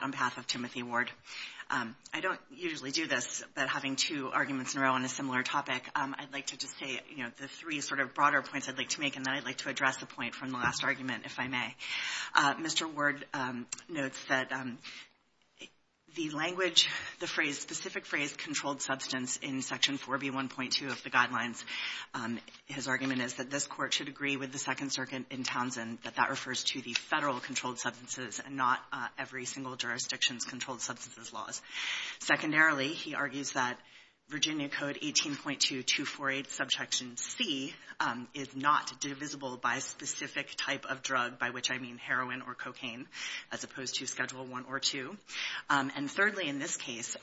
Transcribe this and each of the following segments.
on behalf of Timothy Ward. I don't usually do this, but having two arguments in a row on a similar topic, I'd like to just say, you know, the three sort of broader points I'd like to make, and then I'd like to address a point from the last argument, if I may. Mr. Ward notes that the language, the phrase, specific phrase, controlled substance in Section 4B1.2 of the Guidelines, his argument is that this refers to the federal controlled substances and not every single jurisdiction's controlled substances laws. Secondarily, he argues that Virginia Code 18.2248, Subsection C, is not divisible by a specific type of drug, by which I mean heroin or cocaine, as opposed to Schedule I or II. And thirdly, in this case,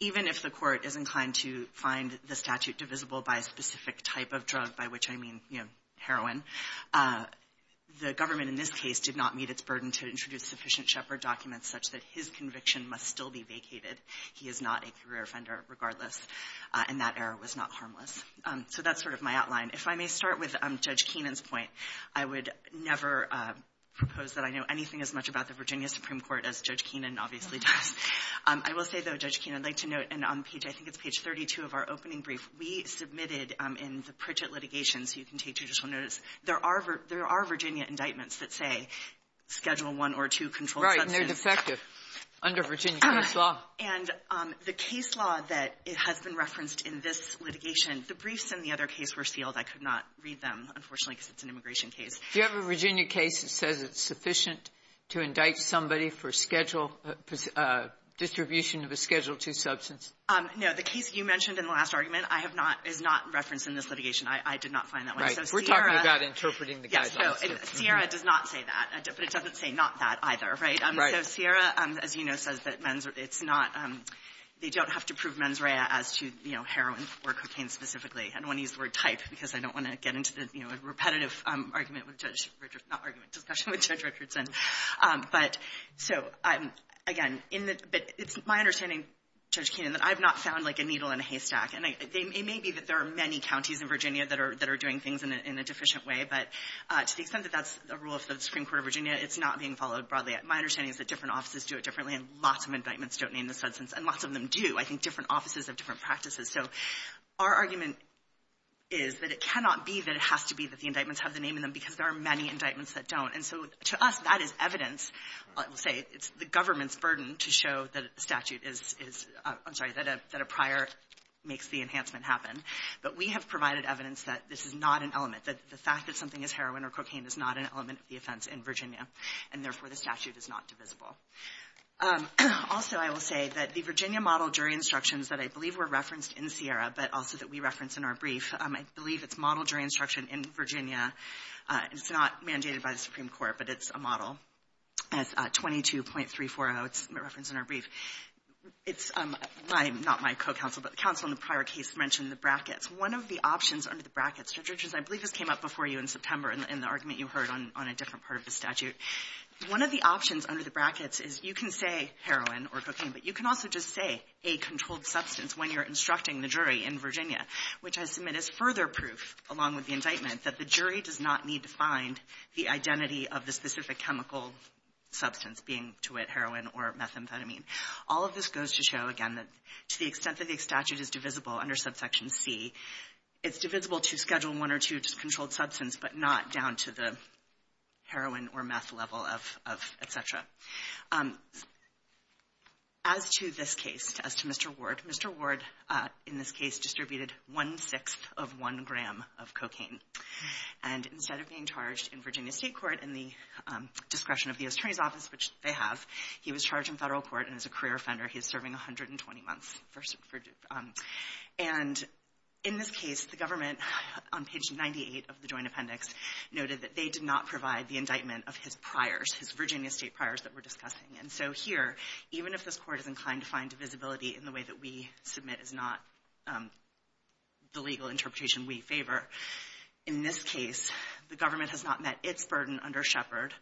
even if the court is inclined to find the statute divisible by a specific type of drug, by which I mean, you know, heroin, the government in this case did not meet its burden to introduce sufficient Shepherd documents such that his conviction must still be vacated. He is not a career offender, regardless, and that error was not harmless. So that's sort of my outline. If I may start with Judge Keenan's point, I would never propose that I know anything as much about the Virginia Supreme Court as Judge Keenan obviously does. I will say, though, Judge Keenan, I'd like to note, and on page, I think it's page 32 of our report, that if you're admitted in the Pritchett litigation, so you can take judicial notice, there are Virginia indictments that say Schedule I or II controlled substances. Kagan. Right, and they're defective under Virginia case law. And the case law that has been referenced in this litigation, the briefs in the other case were sealed. I could not read them, unfortunately, because it's an immigration case. Do you have a Virginia case that says it's sufficient to indict somebody for Schedule II, distribution of a Schedule II substance? No. The case you mentioned in the last argument, I have not – is not referenced in this litigation. I did not find that one. Right. So Sierra – We're talking about interpreting the guy's answer. Yes. So Sierra does not say that, but it doesn't say not that either, right? Right. So Sierra, as you know, says that men's – it's not – they don't have to prove mens rea as to, you know, heroin or cocaine specifically. I don't want to use the word type because I don't want to get into the, you know, repetitive argument with Judge Richardson – not argument, discussion with Judge Richardson. But so, again, in the – but it's my understanding, Judge Keenan, that I've not found like a needle in a haystack. And it may be that there are many counties in Virginia that are doing things in a deficient way, but to the extent that that's a rule of the Supreme Court of Virginia, it's not being followed broadly. My understanding is that different offices do it differently, and lots of indictments don't name the substance, and lots of them do. I think different offices have different practices. So our argument is that it cannot be that it has to be that the indictments have the name in them because there are many indictments that don't. And so to us, that is evidence. I will say it's the government's burden to show that a statute is – I'm sorry, that a prior makes the enhancement happen. But we have provided evidence that this is not an element, that the fact that something is heroin or cocaine is not an element of the offense in Virginia, and therefore the statute is not divisible. Also, I will say that the Virginia model jury instructions that I believe were referenced in Sierra, but also that we referenced in our brief, I believe it's model jury instruction in Virginia. It's not mandated by the Supreme Court, but it's a model. It's 22.340. It's referenced in our brief. It's – not my co-counsel, but the counsel in the prior case mentioned the brackets. One of the options under the brackets, Judge Richards, I believe this came up before you in September in the argument you heard on a different part of the statute. One of the options under the brackets is you can say heroin or cocaine, but you can also just say a controlled substance when you're instructing the jury in Virginia, which I submit is further proof, along with the indictment, that the jury does not need to find the identity of the specific chemical substance being to it heroin or methamphetamine. All of this goes to show, again, that to the extent that the statute is divisible under subsection C, it's divisible to Schedule I or II, just controlled substance, but not down to the heroin or meth level of et cetera. As to this case, as to Mr. Ward, in this case distributed one-sixth of one gram of cocaine. And instead of being charged in Virginia State court in the discretion of the attorney's office, which they have, he was charged in federal court and is a career offender. He is serving 120 months. And in this case, the government on page 98 of the joint appendix noted that they did not provide the indictment of his priors, his Virginia State priors that we're discussing. And so here, even if this Court is inclined to find divisibility in the way that we submit is not the legal interpretation we favor, in this case, the government has not met its burden under Shepard,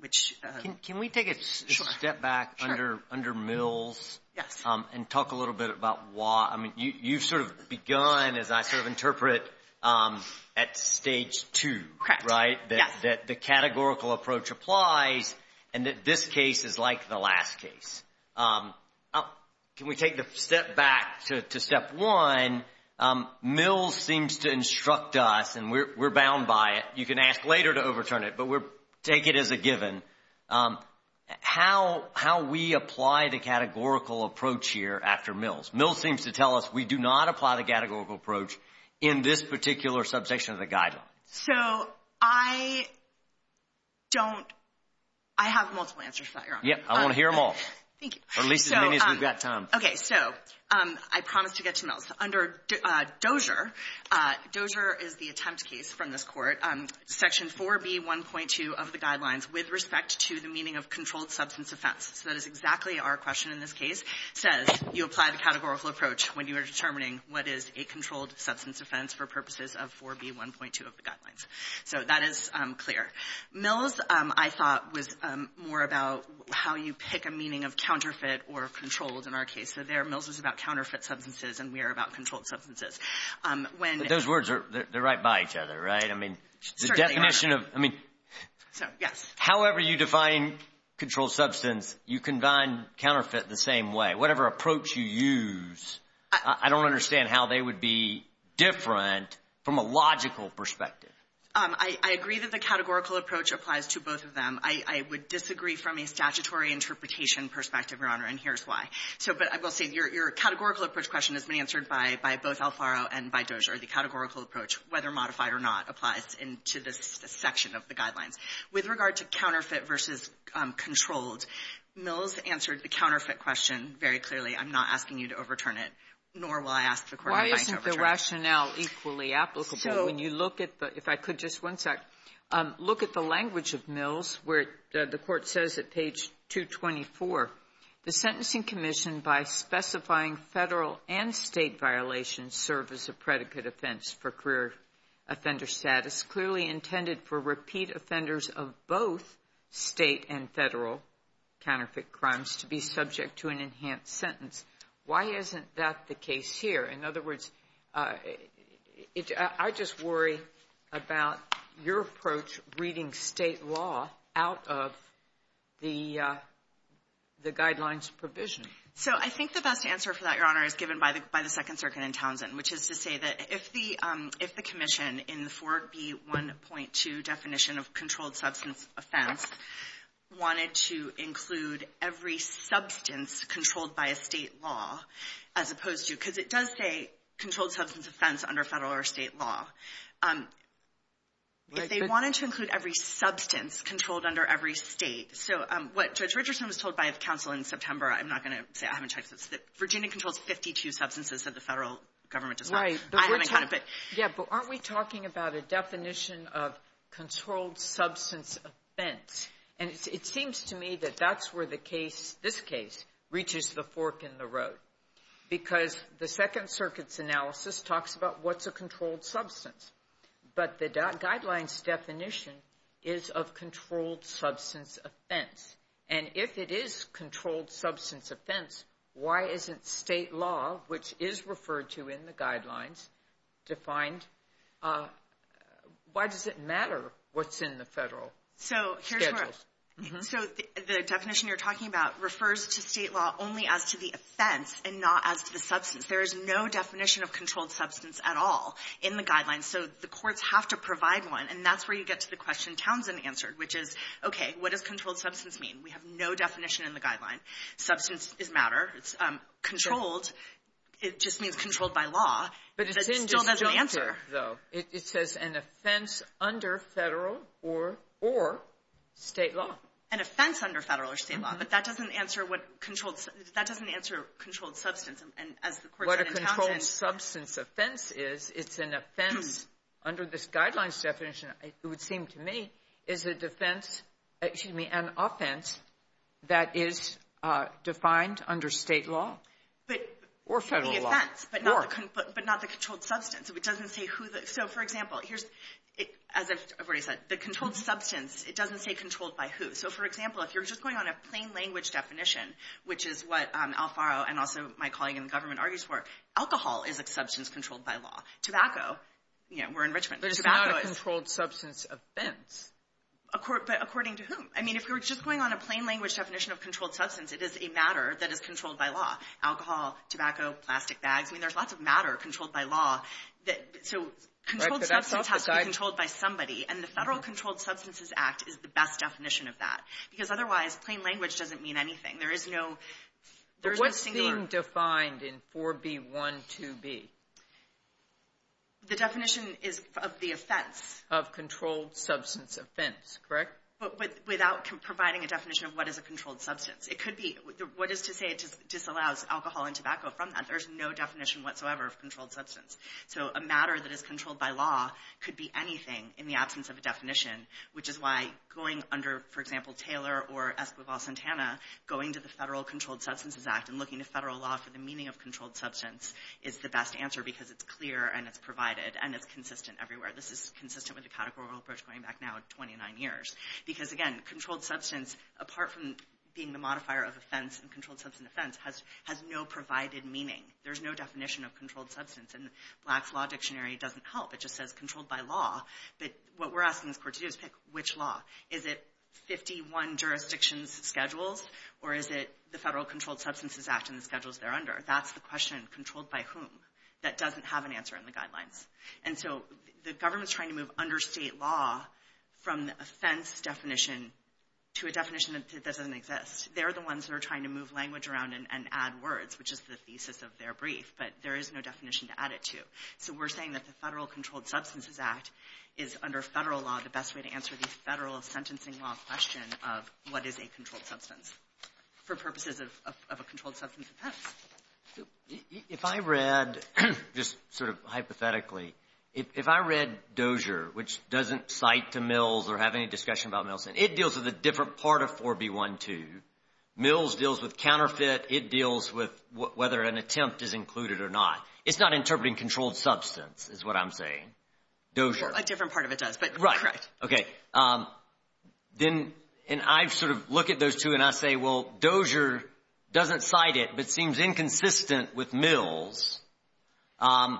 which — Can we take a step back under Mills? Yes. And talk a little bit about why — I mean, you've sort of begun, as I sort of interpret, at Stage 2, right? Yes. That the categorical approach applies and that this case is like the last case. Can we take the step back to Step 1? Mills seems to instruct us, and we're bound by it. You can ask later to overturn it, but we'll take it as a given, how we apply the categorical approach here after Mills. Mills seems to tell us we do not apply the categorical approach in this particular subjection of the Guidelines. So I don't — I have multiple answers for that, Your Honor. Yes. I want to hear them all. Thank you. Or at least as many as we've got time. Okay. So I promised to get to Mills. Under Dozier, Dozier is the attempt case from this Court, Section 4B1.2 of the Guidelines with respect to the meaning of controlled substance offense. So that is exactly our question in this case, says you apply the categorical approach when you are determining what is a controlled substance offense for purposes of 4B1.2 of the Guidelines. So that is clear. Mills, I thought, was more about how you pick a meaning of counterfeit or controlled in our case. So there, Mills is about counterfeit substances and we are about controlled substances. When — But those words, they're right by each other, right? I mean, the definition of — Certainly are. I mean — So, yes. However you define controlled substance, you combine counterfeit the same way. Whatever approach you use, I don't understand how they would be different from a logical perspective. I agree that the categorical approach applies to both of them. I would disagree from a statutory interpretation perspective, Your Honor, and here's why. So, but I will say, your categorical approach question has been answered by both Alfaro and by Dozier. The categorical approach, whether modified or not, applies to this section of the Guidelines. With regard to counterfeit versus controlled, Mills answered the counterfeit question very clearly. I'm not asking you to overturn it, nor will I ask the Court to overturn it. Why isn't the rationale equally applicable? So — When you look at the — if I could, just one sec. Look at the language of Mills where the Court says at page 224, The Sentencing Commission, by specifying Federal and State violations, serve as a predicate offense for career offender status, clearly intended for repeat offenders of both State and Federal counterfeit crimes to be subject to an enhanced sentence. Why isn't that the case here? In other words, I just worry about your approach reading State law out of the Guidelines provision. So I think the best answer for that, Your Honor, is given by the Second Circuit in Townsend, which is to say that if the — if the commission in the 4B1.2 definition of controlled substance offense wanted to include every substance controlled by a State law as opposed to — because it does say controlled substance offense under Federal or State law. If they wanted to include every substance controlled under every State — so what Judge Richardson was told by counsel in September, I'm not going to say, I haven't Right. Yeah, but aren't we talking about a definition of controlled substance offense? And it seems to me that that's where the case — this case reaches the fork in the road, because the Second Circuit's analysis talks about what's a controlled substance. But the Guidelines definition is of controlled substance offense. And if it is controlled substance offense, why isn't State law, which is referred to in the Guidelines, defined? Why does it matter what's in the Federal schedules? So the definition you're talking about refers to State law only as to the offense and not as to the substance. There is no definition of controlled substance at all in the Guidelines. So the courts have to provide one. And that's where you get to the question Townsend answered, which is, okay, what does controlled substance mean? We have no definition in the Guidelines. Substance is matter. It's controlled. It just means controlled by law. But it still doesn't answer, though. It says an offense under Federal or State law. An offense under Federal or State law. But that doesn't answer what controlled — that doesn't answer controlled substance. And as the courts said in Townsend — What a controlled substance offense is, it's an offense — under this Guidelines definition, it would seem to me, is a defense — excuse me, an offense that is defined under State law or Federal law. The offense, but not the controlled substance. It doesn't say who the — so, for example, here's — as I've already said, the controlled substance, it doesn't say controlled by who. So, for example, if you're just going on a plain language definition, which is what Alfaro and also my colleague in the government argues for, alcohol is a substance controlled by law. Tobacco, you know, we're in Richmond. Tobacco is — But it's not a controlled substance offense. But according to whom? I mean, if we were just going on a plain language definition of controlled substance, it is a matter that is controlled by law. Alcohol, tobacco, plastic bags. I mean, there's lots of matter controlled by law. So, controlled substance has to be controlled by somebody. And the Federal Controlled Substances Act is the best definition of that. Because otherwise, plain language doesn't mean anything. There is no — What's being defined in 4B12B? The definition is of the offense. Of controlled substance offense. Correct? But without providing a definition of what is a controlled substance. It could be — what is to say it disallows alcohol and tobacco from that? There's no definition whatsoever of controlled substance. So, a matter that is controlled by law could be anything in the absence of a definition, which is why going under, for example, Taylor or Escobar-Santana, going to the Federal Controlled Substances Act and looking to federal law for the meaning of controlled substance is the best answer because it's clear and it's provided and it's consistent everywhere. This is consistent with the categorical approach going back now 29 years. Because, again, controlled substance, apart from being the modifier of offense and controlled substance offense, has no provided meaning. There's no definition of controlled substance. And Black's Law Dictionary doesn't help. It just says controlled by law. But what we're asking this court to do is pick which law. Is it 51 jurisdictions' schedules or is it the Federal Controlled Substances Act and the schedules they're under? That's the question. Controlled by whom? That doesn't have an answer in the guidelines. And so the government's trying to move under state law from the offense definition to a definition that doesn't exist. They're the ones that are trying to move language around and add words, which is the thesis of their brief. But there is no definition to add it to. So we're saying that the Federal Controlled Substances Act is, under federal law, the best way to answer the federal sentencing law question of what is a controlled substance offense. If I read, just sort of hypothetically, if I read Dozier, which doesn't cite to Mills or have any discussion about Mills, it deals with a different part of 4B12. Mills deals with counterfeit. It deals with whether an attempt is included or not. It's not interpreting controlled substance is what I'm saying. Dozier. A different part of it does, but correct. Right. Okay. Then, and I sort of look at those two and I say, well, Dozier doesn't cite it but seems inconsistent with Mills. And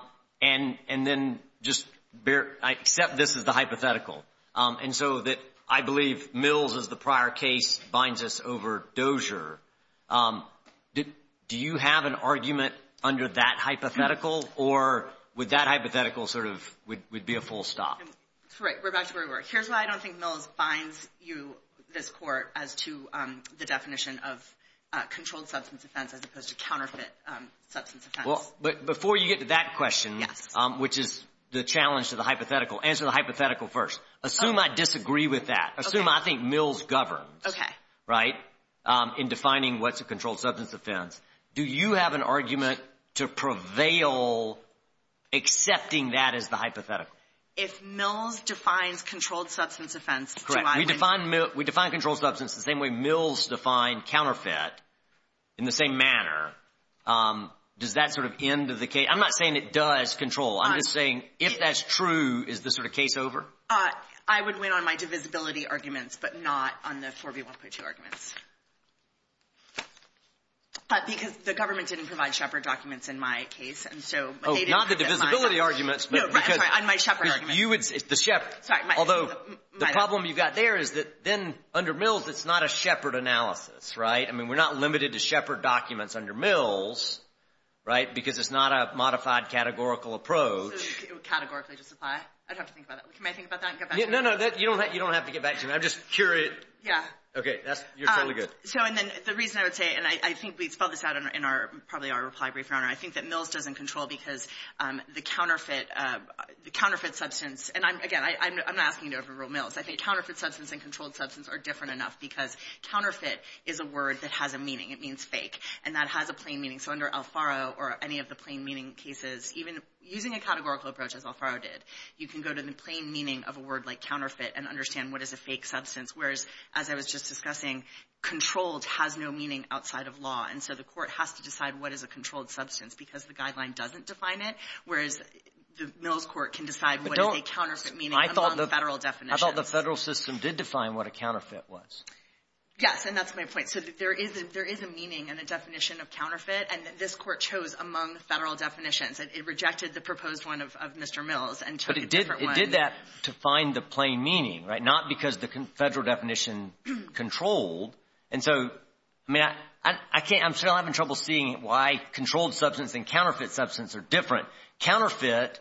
then just accept this as the hypothetical. And so I believe Mills, as the prior case, binds us over Dozier. Do you have an argument under that hypothetical, or would that hypothetical sort of be a full stop? Right. We're back to where we were. Here's why I don't think Mills binds you, this court, as to the definition of controlled substance offense as opposed to counterfeit substance offense. But before you get to that question, which is the challenge to the hypothetical, answer the hypothetical first. Assume I disagree with that. Assume I think Mills governs. Okay. Right? In defining what's a controlled substance offense. Do you have an argument to prevail accepting that as the hypothetical? If Mills defines controlled substance offense, do I win? Correct. We define controlled substance the same way Mills defined counterfeit, in the same manner. Does that sort of end of the case? I'm not saying it does control. I'm just saying if that's true, is this sort of case over? I would win on my divisibility arguments, but not on the 4B1.2 arguments. But because the government didn't provide Shepard documents in my case. Oh, not the divisibility arguments. No, I'm sorry, on my Shepard argument. The Shepard. Sorry. Although the problem you've got there is that then under Mills, it's not a Shepard analysis, right? I mean, we're not limited to Shepard documents under Mills, right, because it's not a modified categorical approach. So it would categorically just apply? I'd have to think about that. Can I think about that and get back to you? No, no. You don't have to get back to me. I'm just curious. Yeah. Okay. You're totally good. So, and then the reason I would say, and I think we spelled this out in probably our reply brief, I think that Mills doesn't control because the counterfeit substance, and again, I'm not asking you to overrule Mills. I think counterfeit substance and controlled substance are different enough because counterfeit is a word that has a meaning. It means fake. And that has a plain meaning. So under Alfaro or any of the plain meaning cases, even using a categorical approach as Alfaro did, you can go to the plain meaning of a word like counterfeit and understand what is a fake substance, whereas as I was just discussing, controlled has no meaning outside of law. And so the court has to decide what is a controlled substance because the guideline doesn't define it, whereas the Mills court can decide what is a counterfeit meaning among the federal definitions. I thought the federal system did define what a counterfeit was. Yes, and that's my point. So there is a meaning and a definition of counterfeit, and this court chose among the federal definitions. It rejected the proposed one of Mr. Mills and took a different one. But it did that to find the plain meaning, right, not because the federal definition controlled. And so, I mean, I'm still having trouble seeing why controlled substance and counterfeit substance are different. Counterfeit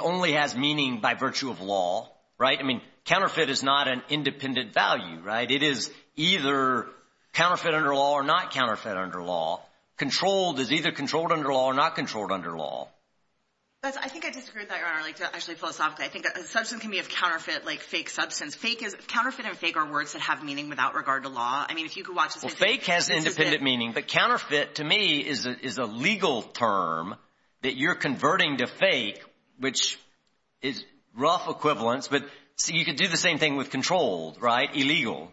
only has meaning by virtue of law, right? I mean, counterfeit is not an independent value, right? It is either counterfeit under law or not counterfeit under law. Controlled is either controlled under law or not controlled under law. Judge, I think I disagreed with that, Your Honor, actually philosophically. I think a substance can be a counterfeit like fake substance. Counterfeit and fake are words that have meaning without regard to law. I mean, if you could watch the same thing. Well, fake has independent meaning, but counterfeit to me is a legal term that you're converting to fake, which is rough equivalence, but you could do the same thing with controlled, right, illegal.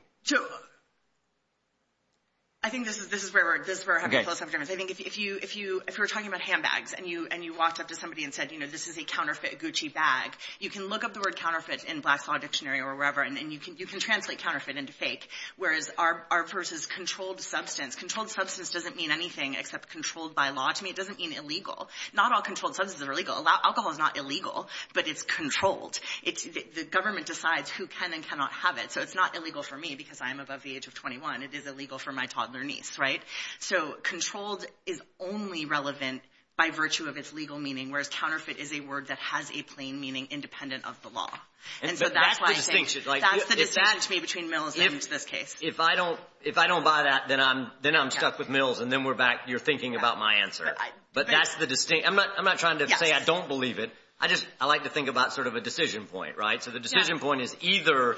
I think this is where I have a philosophical difference. I think if you were talking about handbags and you walked up to somebody and said, you know, this is a counterfeit Gucci bag, you can look up the word counterfeit in Black's Law Dictionary or wherever and you can translate counterfeit into fake, whereas ours is controlled substance. Controlled substance doesn't mean anything except controlled by law to me. It doesn't mean illegal. Not all controlled substances are illegal. Alcohol is not illegal, but it's controlled. The government decides who can and cannot have it, so it's not illegal for me because I'm above the age of 21. It is illegal for my toddler niece, right? So controlled is only relevant by virtue of its legal meaning, whereas counterfeit is a word that has a plain meaning independent of the law. That's the distinction. That's the distinction to me between Mills and this case. If I don't buy that, then I'm stuck with Mills, and then you're thinking about my answer. But that's the distinction. I'm not trying to say I don't believe it. I like to think about sort of a decision point, right? So the decision point is either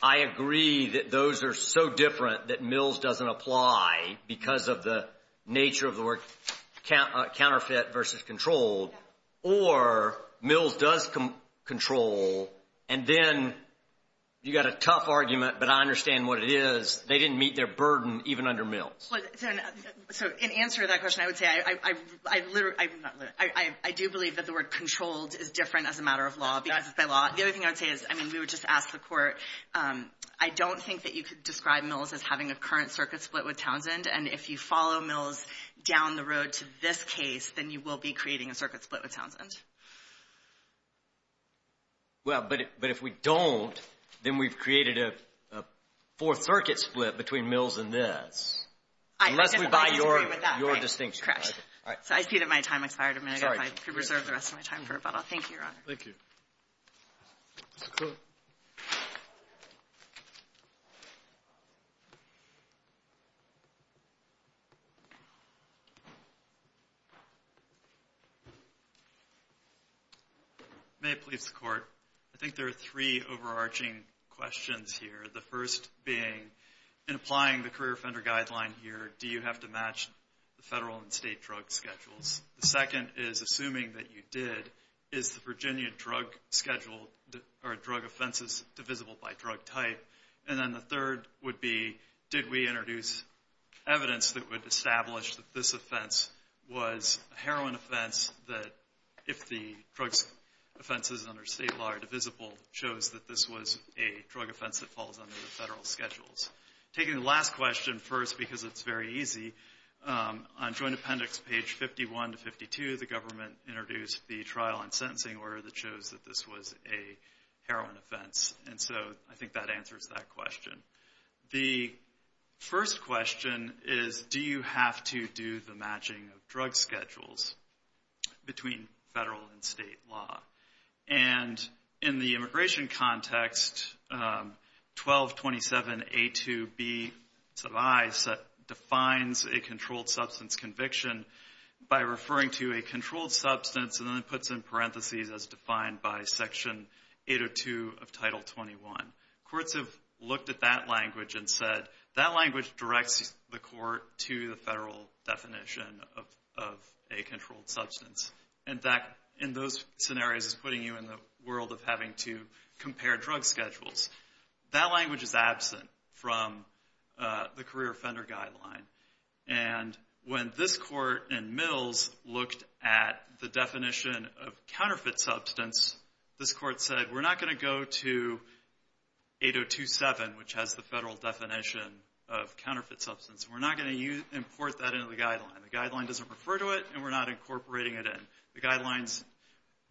I agree that those are so different that Mills doesn't apply because of the nature of the word counterfeit versus controlled, or Mills does control, and then you've got a tough argument, but I understand what it is. They didn't meet their burden even under Mills. So in answer to that question, I would say I do believe that the word controlled is different as a matter of law because it's by law. The other thing I would say is, I mean, we would just ask the court, I don't think that you could describe Mills as having a current circuit split with Townsend, and if you follow Mills down the road to this case, then you will be creating a circuit split with Townsend. Well, but if we don't, then we've created a fourth circuit split between Mills and this. Unless we buy your distinction. Correct. So I see that my time expired. I'm going to reserve the rest of my time for rebuttal. Thank you, Your Honor. Thank you. Mr. Cook. May it please the Court, I think there are three overarching questions here, the first being, in applying the career offender guideline here, do you have to match the federal and state drug schedules? The second is, assuming that you did, is the Virginia drug schedule or drug offenses divisible by drug type? And then the third would be, did we introduce evidence that would establish that this offense was a heroin offense that if the drug offenses under state law are divisible, shows that this was a drug offense that falls under the federal schedules? Taking the last question first because it's very easy, on joint appendix page 51 to 52, the government introduced the trial and sentencing order that shows that this was a heroin offense. And so I think that answers that question. The first question is, do you have to do the matching of drug schedules between federal and state law? And in the immigration context, 1227A2B defines a controlled substance conviction by referring to a controlled substance, and then it puts in parentheses as defined by Section 802 of Title 21. Courts have looked at that language and said, that language directs the court to the federal definition of a controlled substance. And that, in those scenarios, is putting you in the world of having to compare drug schedules. That language is absent from the career offender guideline. And when this court in Mills looked at the definition of counterfeit substance, this court said, we're not going to go to 8027, which has the federal definition of counterfeit substance. We're not going to import that into the guideline. The guideline doesn't refer to it, and we're not incorporating it in. The guidelines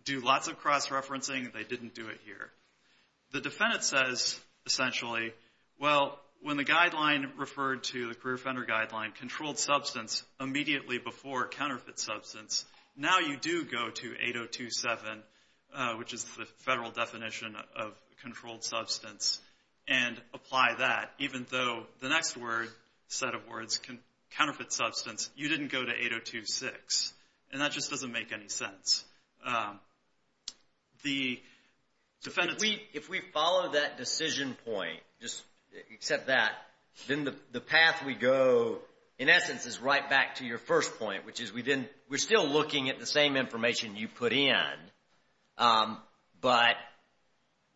do lots of cross-referencing. They didn't do it here. The defendant says, essentially, well, when the guideline referred to the career offender guideline, controlled substance, immediately before counterfeit substance, now you do go to 8027, which is the federal definition of controlled substance, and apply that, even though the next set of words, counterfeit substance, you didn't go to 8026. And that just doesn't make any sense. If we follow that decision point, just accept that, then the path we go, in essence, is right back to your first point, which is we're still looking at the same information you put in, but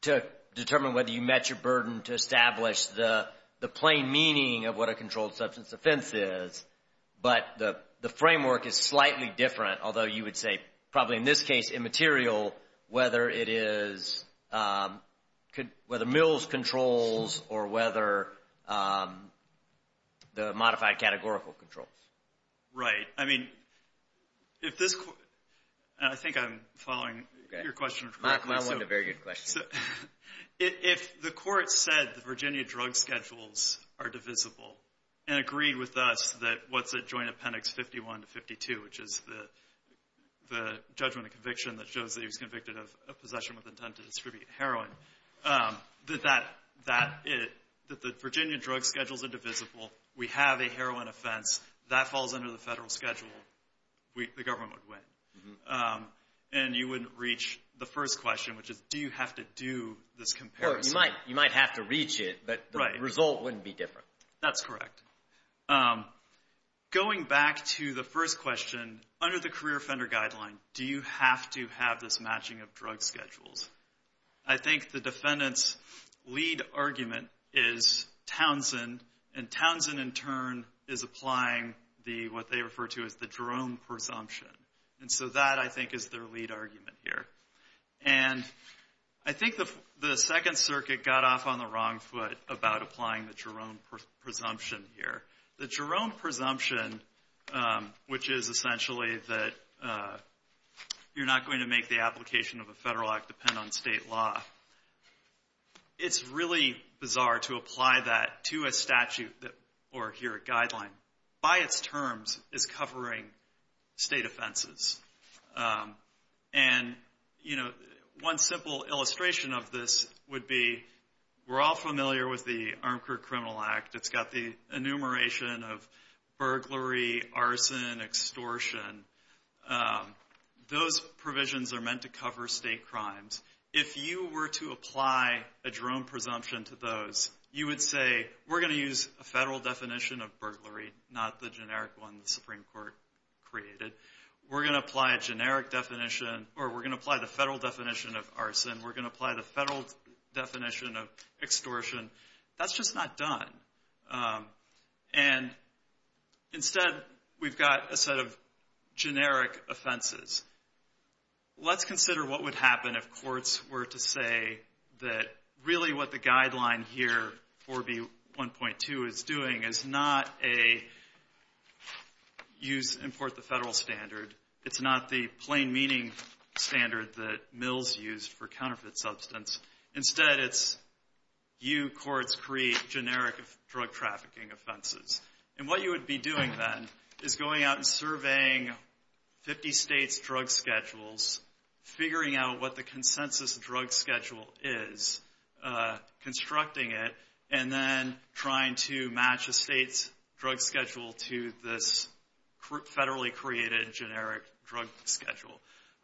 to determine whether you met your burden to establish the plain meaning of what a controlled substance offense is, but the framework is slightly different, although you would say probably, in this case, immaterial, whether Mills controls or whether the modified categorical controls. Right. I mean, if this court, and I think I'm following your question. I want a very good question. If the court said the Virginia drug schedules are divisible, and agreed with us that what's a joint appendix 51 to 52, which is the judgment of conviction that shows that he was convicted of possession with intent to distribute heroin, that the Virginia drug schedules are divisible, we have a heroin offense, that falls under the federal schedule, the government would win. And you wouldn't reach the first question, which is, do you have to do this comparison? You might have to reach it, but the result wouldn't be different. That's correct. Going back to the first question, under the career offender guideline, do you have to have this matching of drug schedules? I think the defendant's lead argument is Townsend, and Townsend, in turn, is applying what they refer to as the Jerome presumption. And so that, I think, is their lead argument here. And I think the Second Circuit got off on the wrong foot about applying the Jerome presumption here. The Jerome presumption, which is essentially that you're not going to make the application of a federal act depend on state law, it's really bizarre to apply that to a statute or, here, a guideline. By its terms, it's covering state offenses. And, you know, one simple illustration of this would be, we're all familiar with the Armed Crew Criminal Act. It's got the enumeration of burglary, arson, extortion. Those provisions are meant to cover state crimes. If you were to apply a Jerome presumption to those, you would say, we're going to use a federal definition of burglary, not the generic one the Supreme Court created. We're going to apply a generic definition, or we're going to apply the federal definition of arson. We're going to apply the federal definition of extortion. That's just not done. And, instead, we've got a set of generic offenses. Let's consider what would happen if courts were to say that, really, what the guideline here, 4B1.2, is doing is not a use, import the federal standard. It's not the plain meaning standard that Mills used for counterfeit substance. Instead, it's you courts create generic drug trafficking offenses. And what you would be doing, then, is going out and surveying 50 states' drug schedules, figuring out what the consensus drug schedule is, constructing it, and then trying to match a state's drug schedule to this federally created generic drug schedule.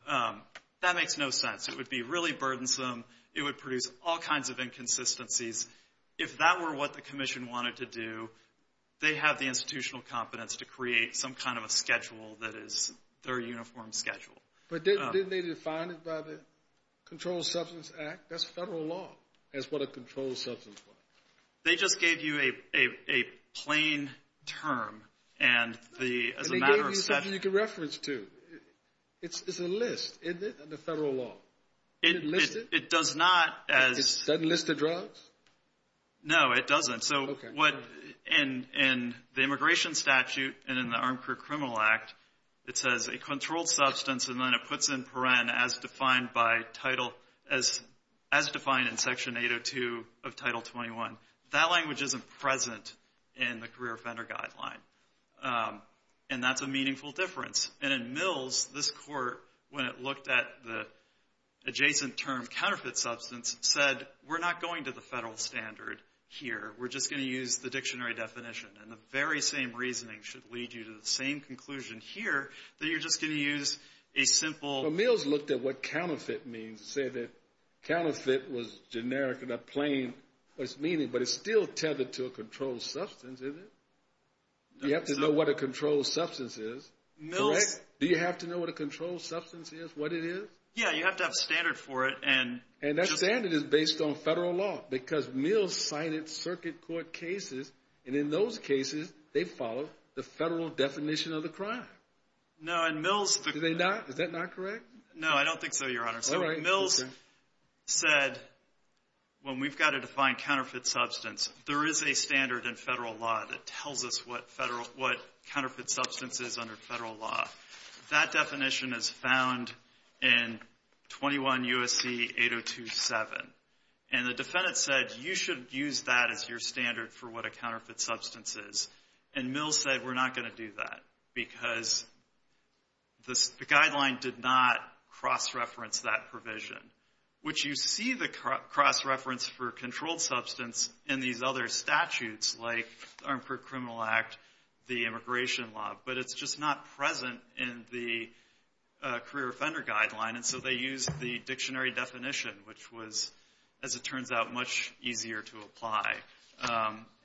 That makes no sense. It would be really burdensome. It would produce all kinds of inconsistencies. If that were what the commission wanted to do, they have the institutional competence to create some kind of a schedule that is their uniform schedule. But didn't they define it by the Controlled Substance Act? That's federal law, is what a controlled substance was. They just gave you a plain term. And they gave you something you could reference to. It's a list, isn't it, of the federal law. It doesn't list the drugs? No, it doesn't. In the immigration statute and in the Armed Career Criminal Act, it says a controlled substance, and then it puts in paren, as defined in Section 802 of Title 21. That language isn't present in the career offender guideline. And that's a meaningful difference. And in Mills, this court, when it looked at the adjacent term counterfeit substance, said we're not going to the federal standard here. We're just going to use the dictionary definition. And the very same reasoning should lead you to the same conclusion here, that you're just going to use a simple. But Mills looked at what counterfeit means and said that counterfeit was generic and not plain in its meaning, but it's still tethered to a controlled substance, isn't it? You have to know what a controlled substance is, correct? Do you have to know what a controlled substance is, what it is? Yeah, you have to have standard for it. And that standard is based on federal law, because Mills signed its circuit court cases, and in those cases they follow the federal definition of the crime. No, in Mills the- Do they not? Is that not correct? No, I don't think so, Your Honor. All right. Mills said when we've got to define counterfeit substance, there is a standard in federal law that tells us what counterfeit substance is under federal law. That definition is found in 21 U.S.C. 802.7. And the defendant said you should use that as your standard for what a counterfeit substance is. And Mills said we're not going to do that, because the guideline did not cross-reference that provision, which you see the cross-reference for controlled substance in these other statutes like the Armed Criminal Act, the immigration law, but it's just not present in the career offender guideline. And so they used the dictionary definition, which was, as it turns out, much easier to apply.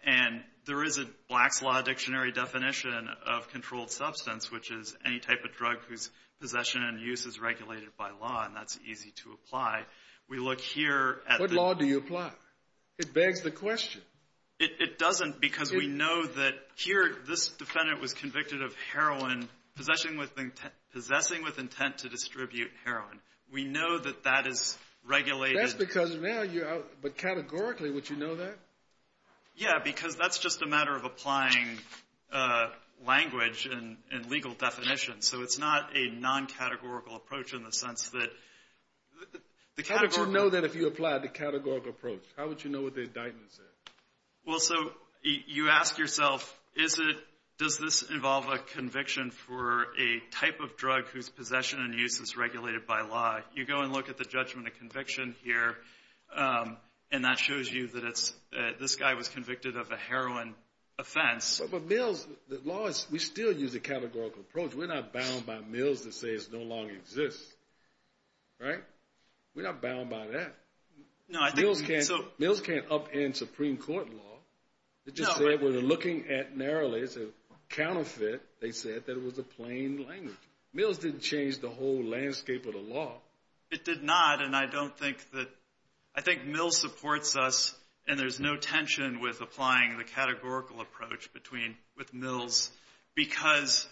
And there is a Black's Law dictionary definition of controlled substance, which is any type of drug whose possession and use is regulated by law, and that's easy to apply. We look here at the- What law do you apply? It begs the question. It doesn't, because we know that here this defendant was convicted of heroin, possessing with intent to distribute heroin. We know that that is regulated. That's because now you're out, but categorically would you know that? Yeah, because that's just a matter of applying language and legal definition. So it's not a non-categorical approach in the sense that the categorical- How would you know that if you applied the categorical approach? How would you know what the indictment said? Well, so you ask yourself, does this involve a conviction for a type of drug whose possession and use is regulated by law? You go and look at the judgment of conviction here, and that shows you that this guy was convicted of a heroin offense. But Mills, we still use a categorical approach. We're not bound by Mills that says it no longer exists. We're not bound by that. Mills can't upend Supreme Court law. It just said we're looking at narrowly as a counterfeit. They said that it was a plain language. Mills didn't change the whole landscape of the law. It did not, and I don't think that- I think Mills supports us, and there's no tension with applying the categorical approach with Mills because-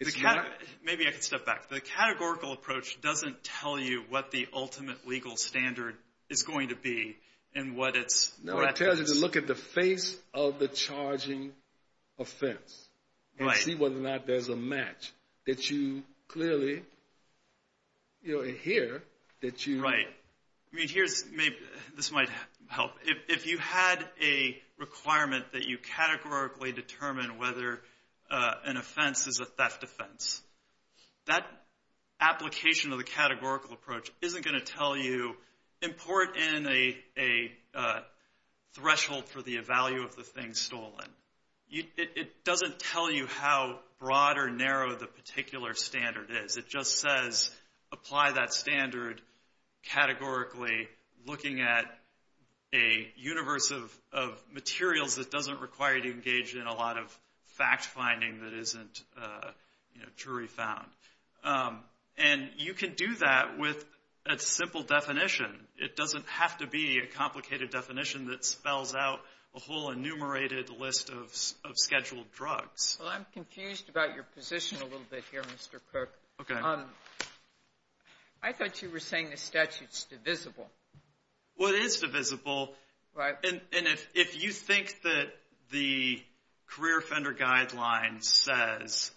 Maybe I could step back. The categorical approach doesn't tell you what the ultimate legal standard is going to be and what its- No, it tells you to look at the face of the charging offense and see whether or not there's a match that you clearly hear that you- Right. I mean, here's- This might help. If you had a requirement that you categorically determine whether an offense is a theft offense, that application of the categorical approach isn't going to tell you import in a threshold for the value of the thing stolen. It doesn't tell you how broad or narrow the particular standard is. It just says apply that standard categorically, looking at a universe of materials that doesn't require you to engage in a lot of fact-finding that isn't jury found. And you can do that with a simple definition. It doesn't have to be a complicated definition that spells out a whole enumerated list of scheduled drugs. Well, I'm confused about your position a little bit here, Mr. Cook. Okay. I thought you were saying the statute's divisible. Well, it is divisible. Right. And if you think that the career offender guideline says,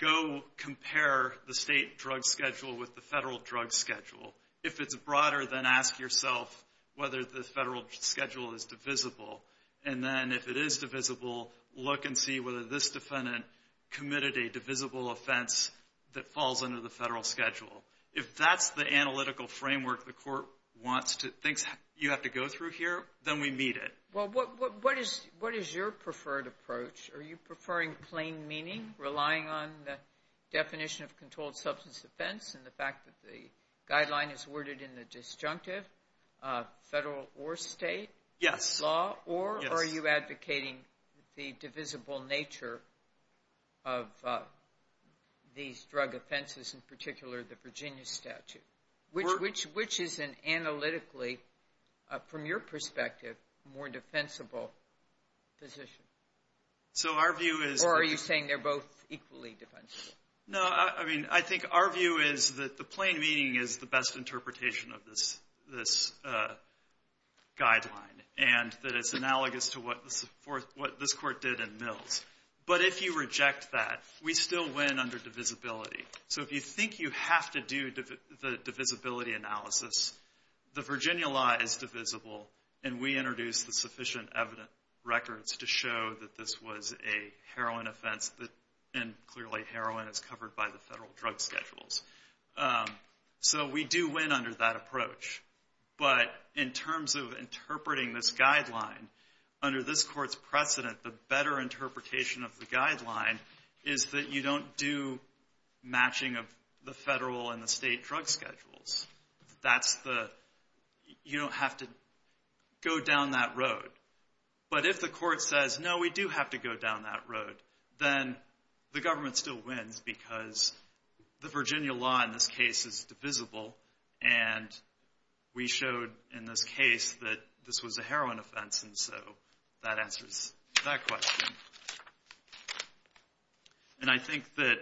go compare the state drug schedule with the federal drug schedule. If it's broader, then ask yourself whether the federal schedule is divisible. And then if it is divisible, look and see whether this defendant committed a divisible offense that falls under the federal schedule. If that's the analytical framework the court thinks you have to go through here, then we meet it. Well, what is your preferred approach? Are you preferring plain meaning, relying on the definition of controlled substance offense and the fact that the guideline is worded in the disjunctive federal or state law? Yes. Or are you advocating the divisible nature of these drug offenses, in particular the Virginia statute? Which is an analytically, from your perspective, more defensible position? Or are you saying they're both equally defensible? No. I mean, I think our view is that the plain meaning is the best interpretation of this guideline and that it's analogous to what this court did in Mills. But if you reject that, we still win under divisibility. So if you think you have to do the divisibility analysis, the Virginia law is divisible, and we introduced the sufficient evidence records to show that this was a heroin offense and, clearly, heroin is covered by the federal drug schedules. So we do win under that approach. But in terms of interpreting this guideline, under this court's precedent, the better interpretation of the guideline is that you don't do matching of the federal and the state drug schedules. You don't have to go down that road. But if the court says, no, we do have to go down that road, then the government still wins because the Virginia law in this case is divisible, and we showed in this case that this was a heroin offense, and so that answers that question. And I think that...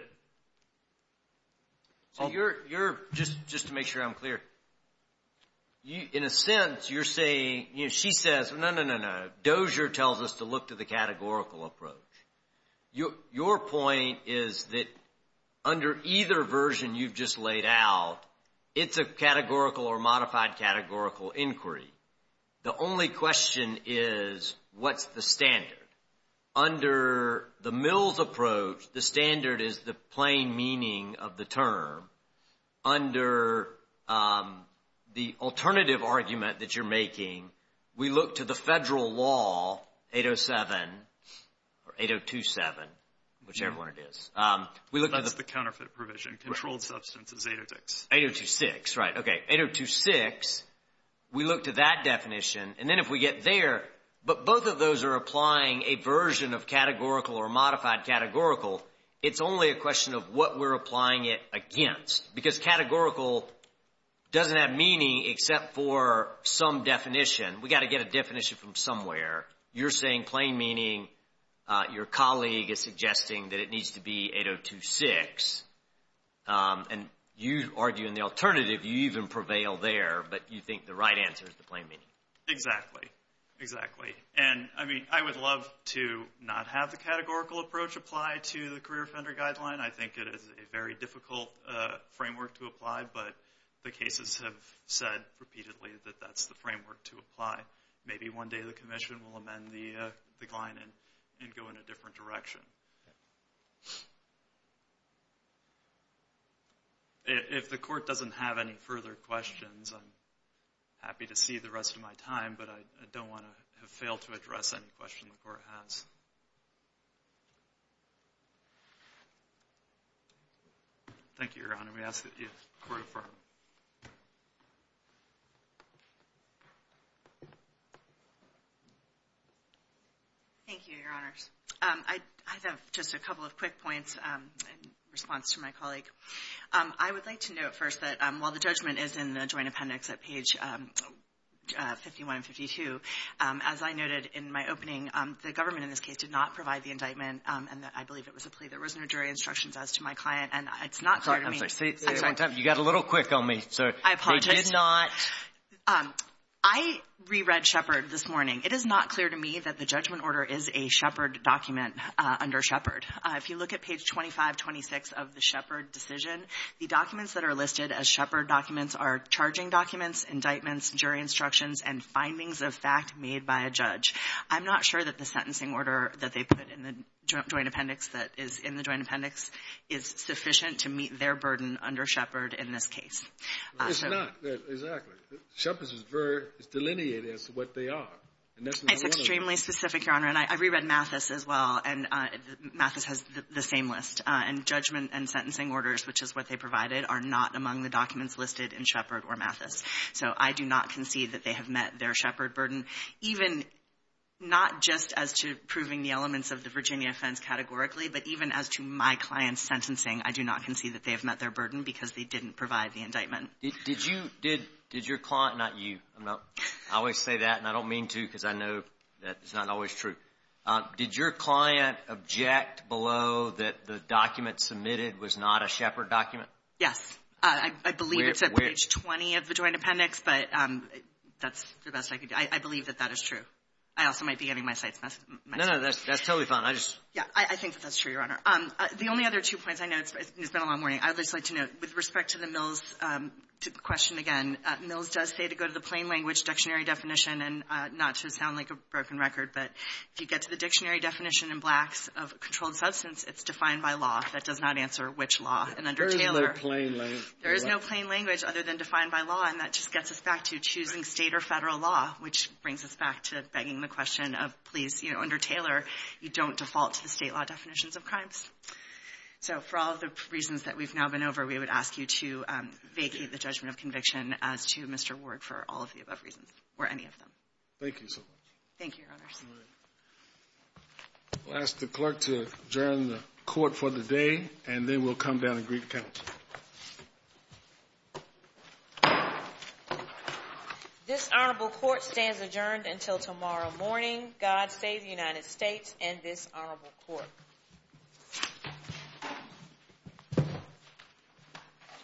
So you're, just to make sure I'm clear, in a sense, you're saying, she says, no, no, no, no, Dozier tells us to look to the categorical approach. Your point is that under either version you've just laid out, it's a categorical or modified categorical inquiry. The only question is, what's the standard? Under the Mills approach, the standard is the plain meaning of the term. Under the alternative argument that you're making, we look to the federal law, 807, or 8027, whichever one it is. That's the counterfeit provision. Controlled substance is 806. 8026, right. Okay, 8026, we look to that definition, and then if we get there, but both of those are applying a version of categorical or modified categorical, it's only a question of what we're applying it against because categorical doesn't have meaning except for some definition. We've got to get a definition from somewhere. You're saying plain meaning. Your colleague is suggesting that it needs to be 8026, and you argue in the alternative you even prevail there, but you think the right answer is the plain meaning. Exactly, exactly. I would love to not have the categorical approach apply to the Career Offender Guideline. I think it is a very difficult framework to apply, but the cases have said repeatedly that that's the framework to apply. Maybe one day the Commission will amend the Gleinen and go in a different direction. If the Court doesn't have any further questions, I'm happy to see the rest of my time, but I don't want to have failed to address any questions the Court has. Thank you, Your Honor. We ask that you court affirm. Thank you, Your Honors. I have just a couple of quick points in response to my colleague. I would like to note first that while the judgment is in the joint appendix at page 51 and 52, as I noted in my opening, the government in this case did not provide the indictment, and I believe it was a plea. There was no jury instructions as to my client, and it's not clear to me. I'm sorry. You got a little quick on me. I apologize. They did not. I reread Shepard this morning. It is not clear to me that the judgment order is a Shepard document under Shepard. If you look at page 2526 of the Shepard decision, the documents that are listed as Shepard documents are charging documents, indictments, jury instructions, and findings of fact made by a judge. I'm not sure that the sentencing order that they put in the joint appendix that is in the joint appendix is sufficient to meet their burden under Shepard in this case. It's not. Exactly. Shepard is delineated as to what they are. It's extremely specific, Your Honor. And I reread Mathis as well, and Mathis has the same list. And judgment and sentencing orders, which is what they provided, are not among the documents listed in Shepard or Mathis. So I do not concede that they have met their Shepard burden, even not just as to proving the elements of the Virginia offense categorically, but even as to my client's sentencing, I do not concede that they have met their burden because they didn't provide the indictment. Did you – did your client – not you. I always say that, and I don't mean to because I know that it's not always true. Did your client object below that the document submitted was not a Shepard document? Yes. I believe it's at page 20 of the joint appendix, but that's the best I could do. I believe that that is true. I also might be getting my sights messed up. No, no. That's totally fine. I just – Yeah. I think that that's true, Your Honor. The only other two points I know – it's been a long morning. I would just like to note with respect to the Mills question again, Mills does say to go to the plain language dictionary definition, and not to sound like a broken record, but if you get to the dictionary definition in Blacks of controlled substance, it's defined by law. That does not answer which law. And under Taylor – There is no plain language. There is no plain language other than defined by law, and that just gets us back to choosing State or Federal law, which brings us back to begging the question of, please, you know, under Taylor, you don't default to the State law definitions of crimes. So for all the reasons that we've now been over, we would ask you to vacate the judgment of conviction as to Mr. Ward for all of the above reasons, or any of them. Thank you so much. Thank you, Your Honors. We'll ask the clerk to adjourn the court for the day, and then we'll come down and greet the counsel. This honorable court stands adjourned until tomorrow morning. God save the United States and this honorable court.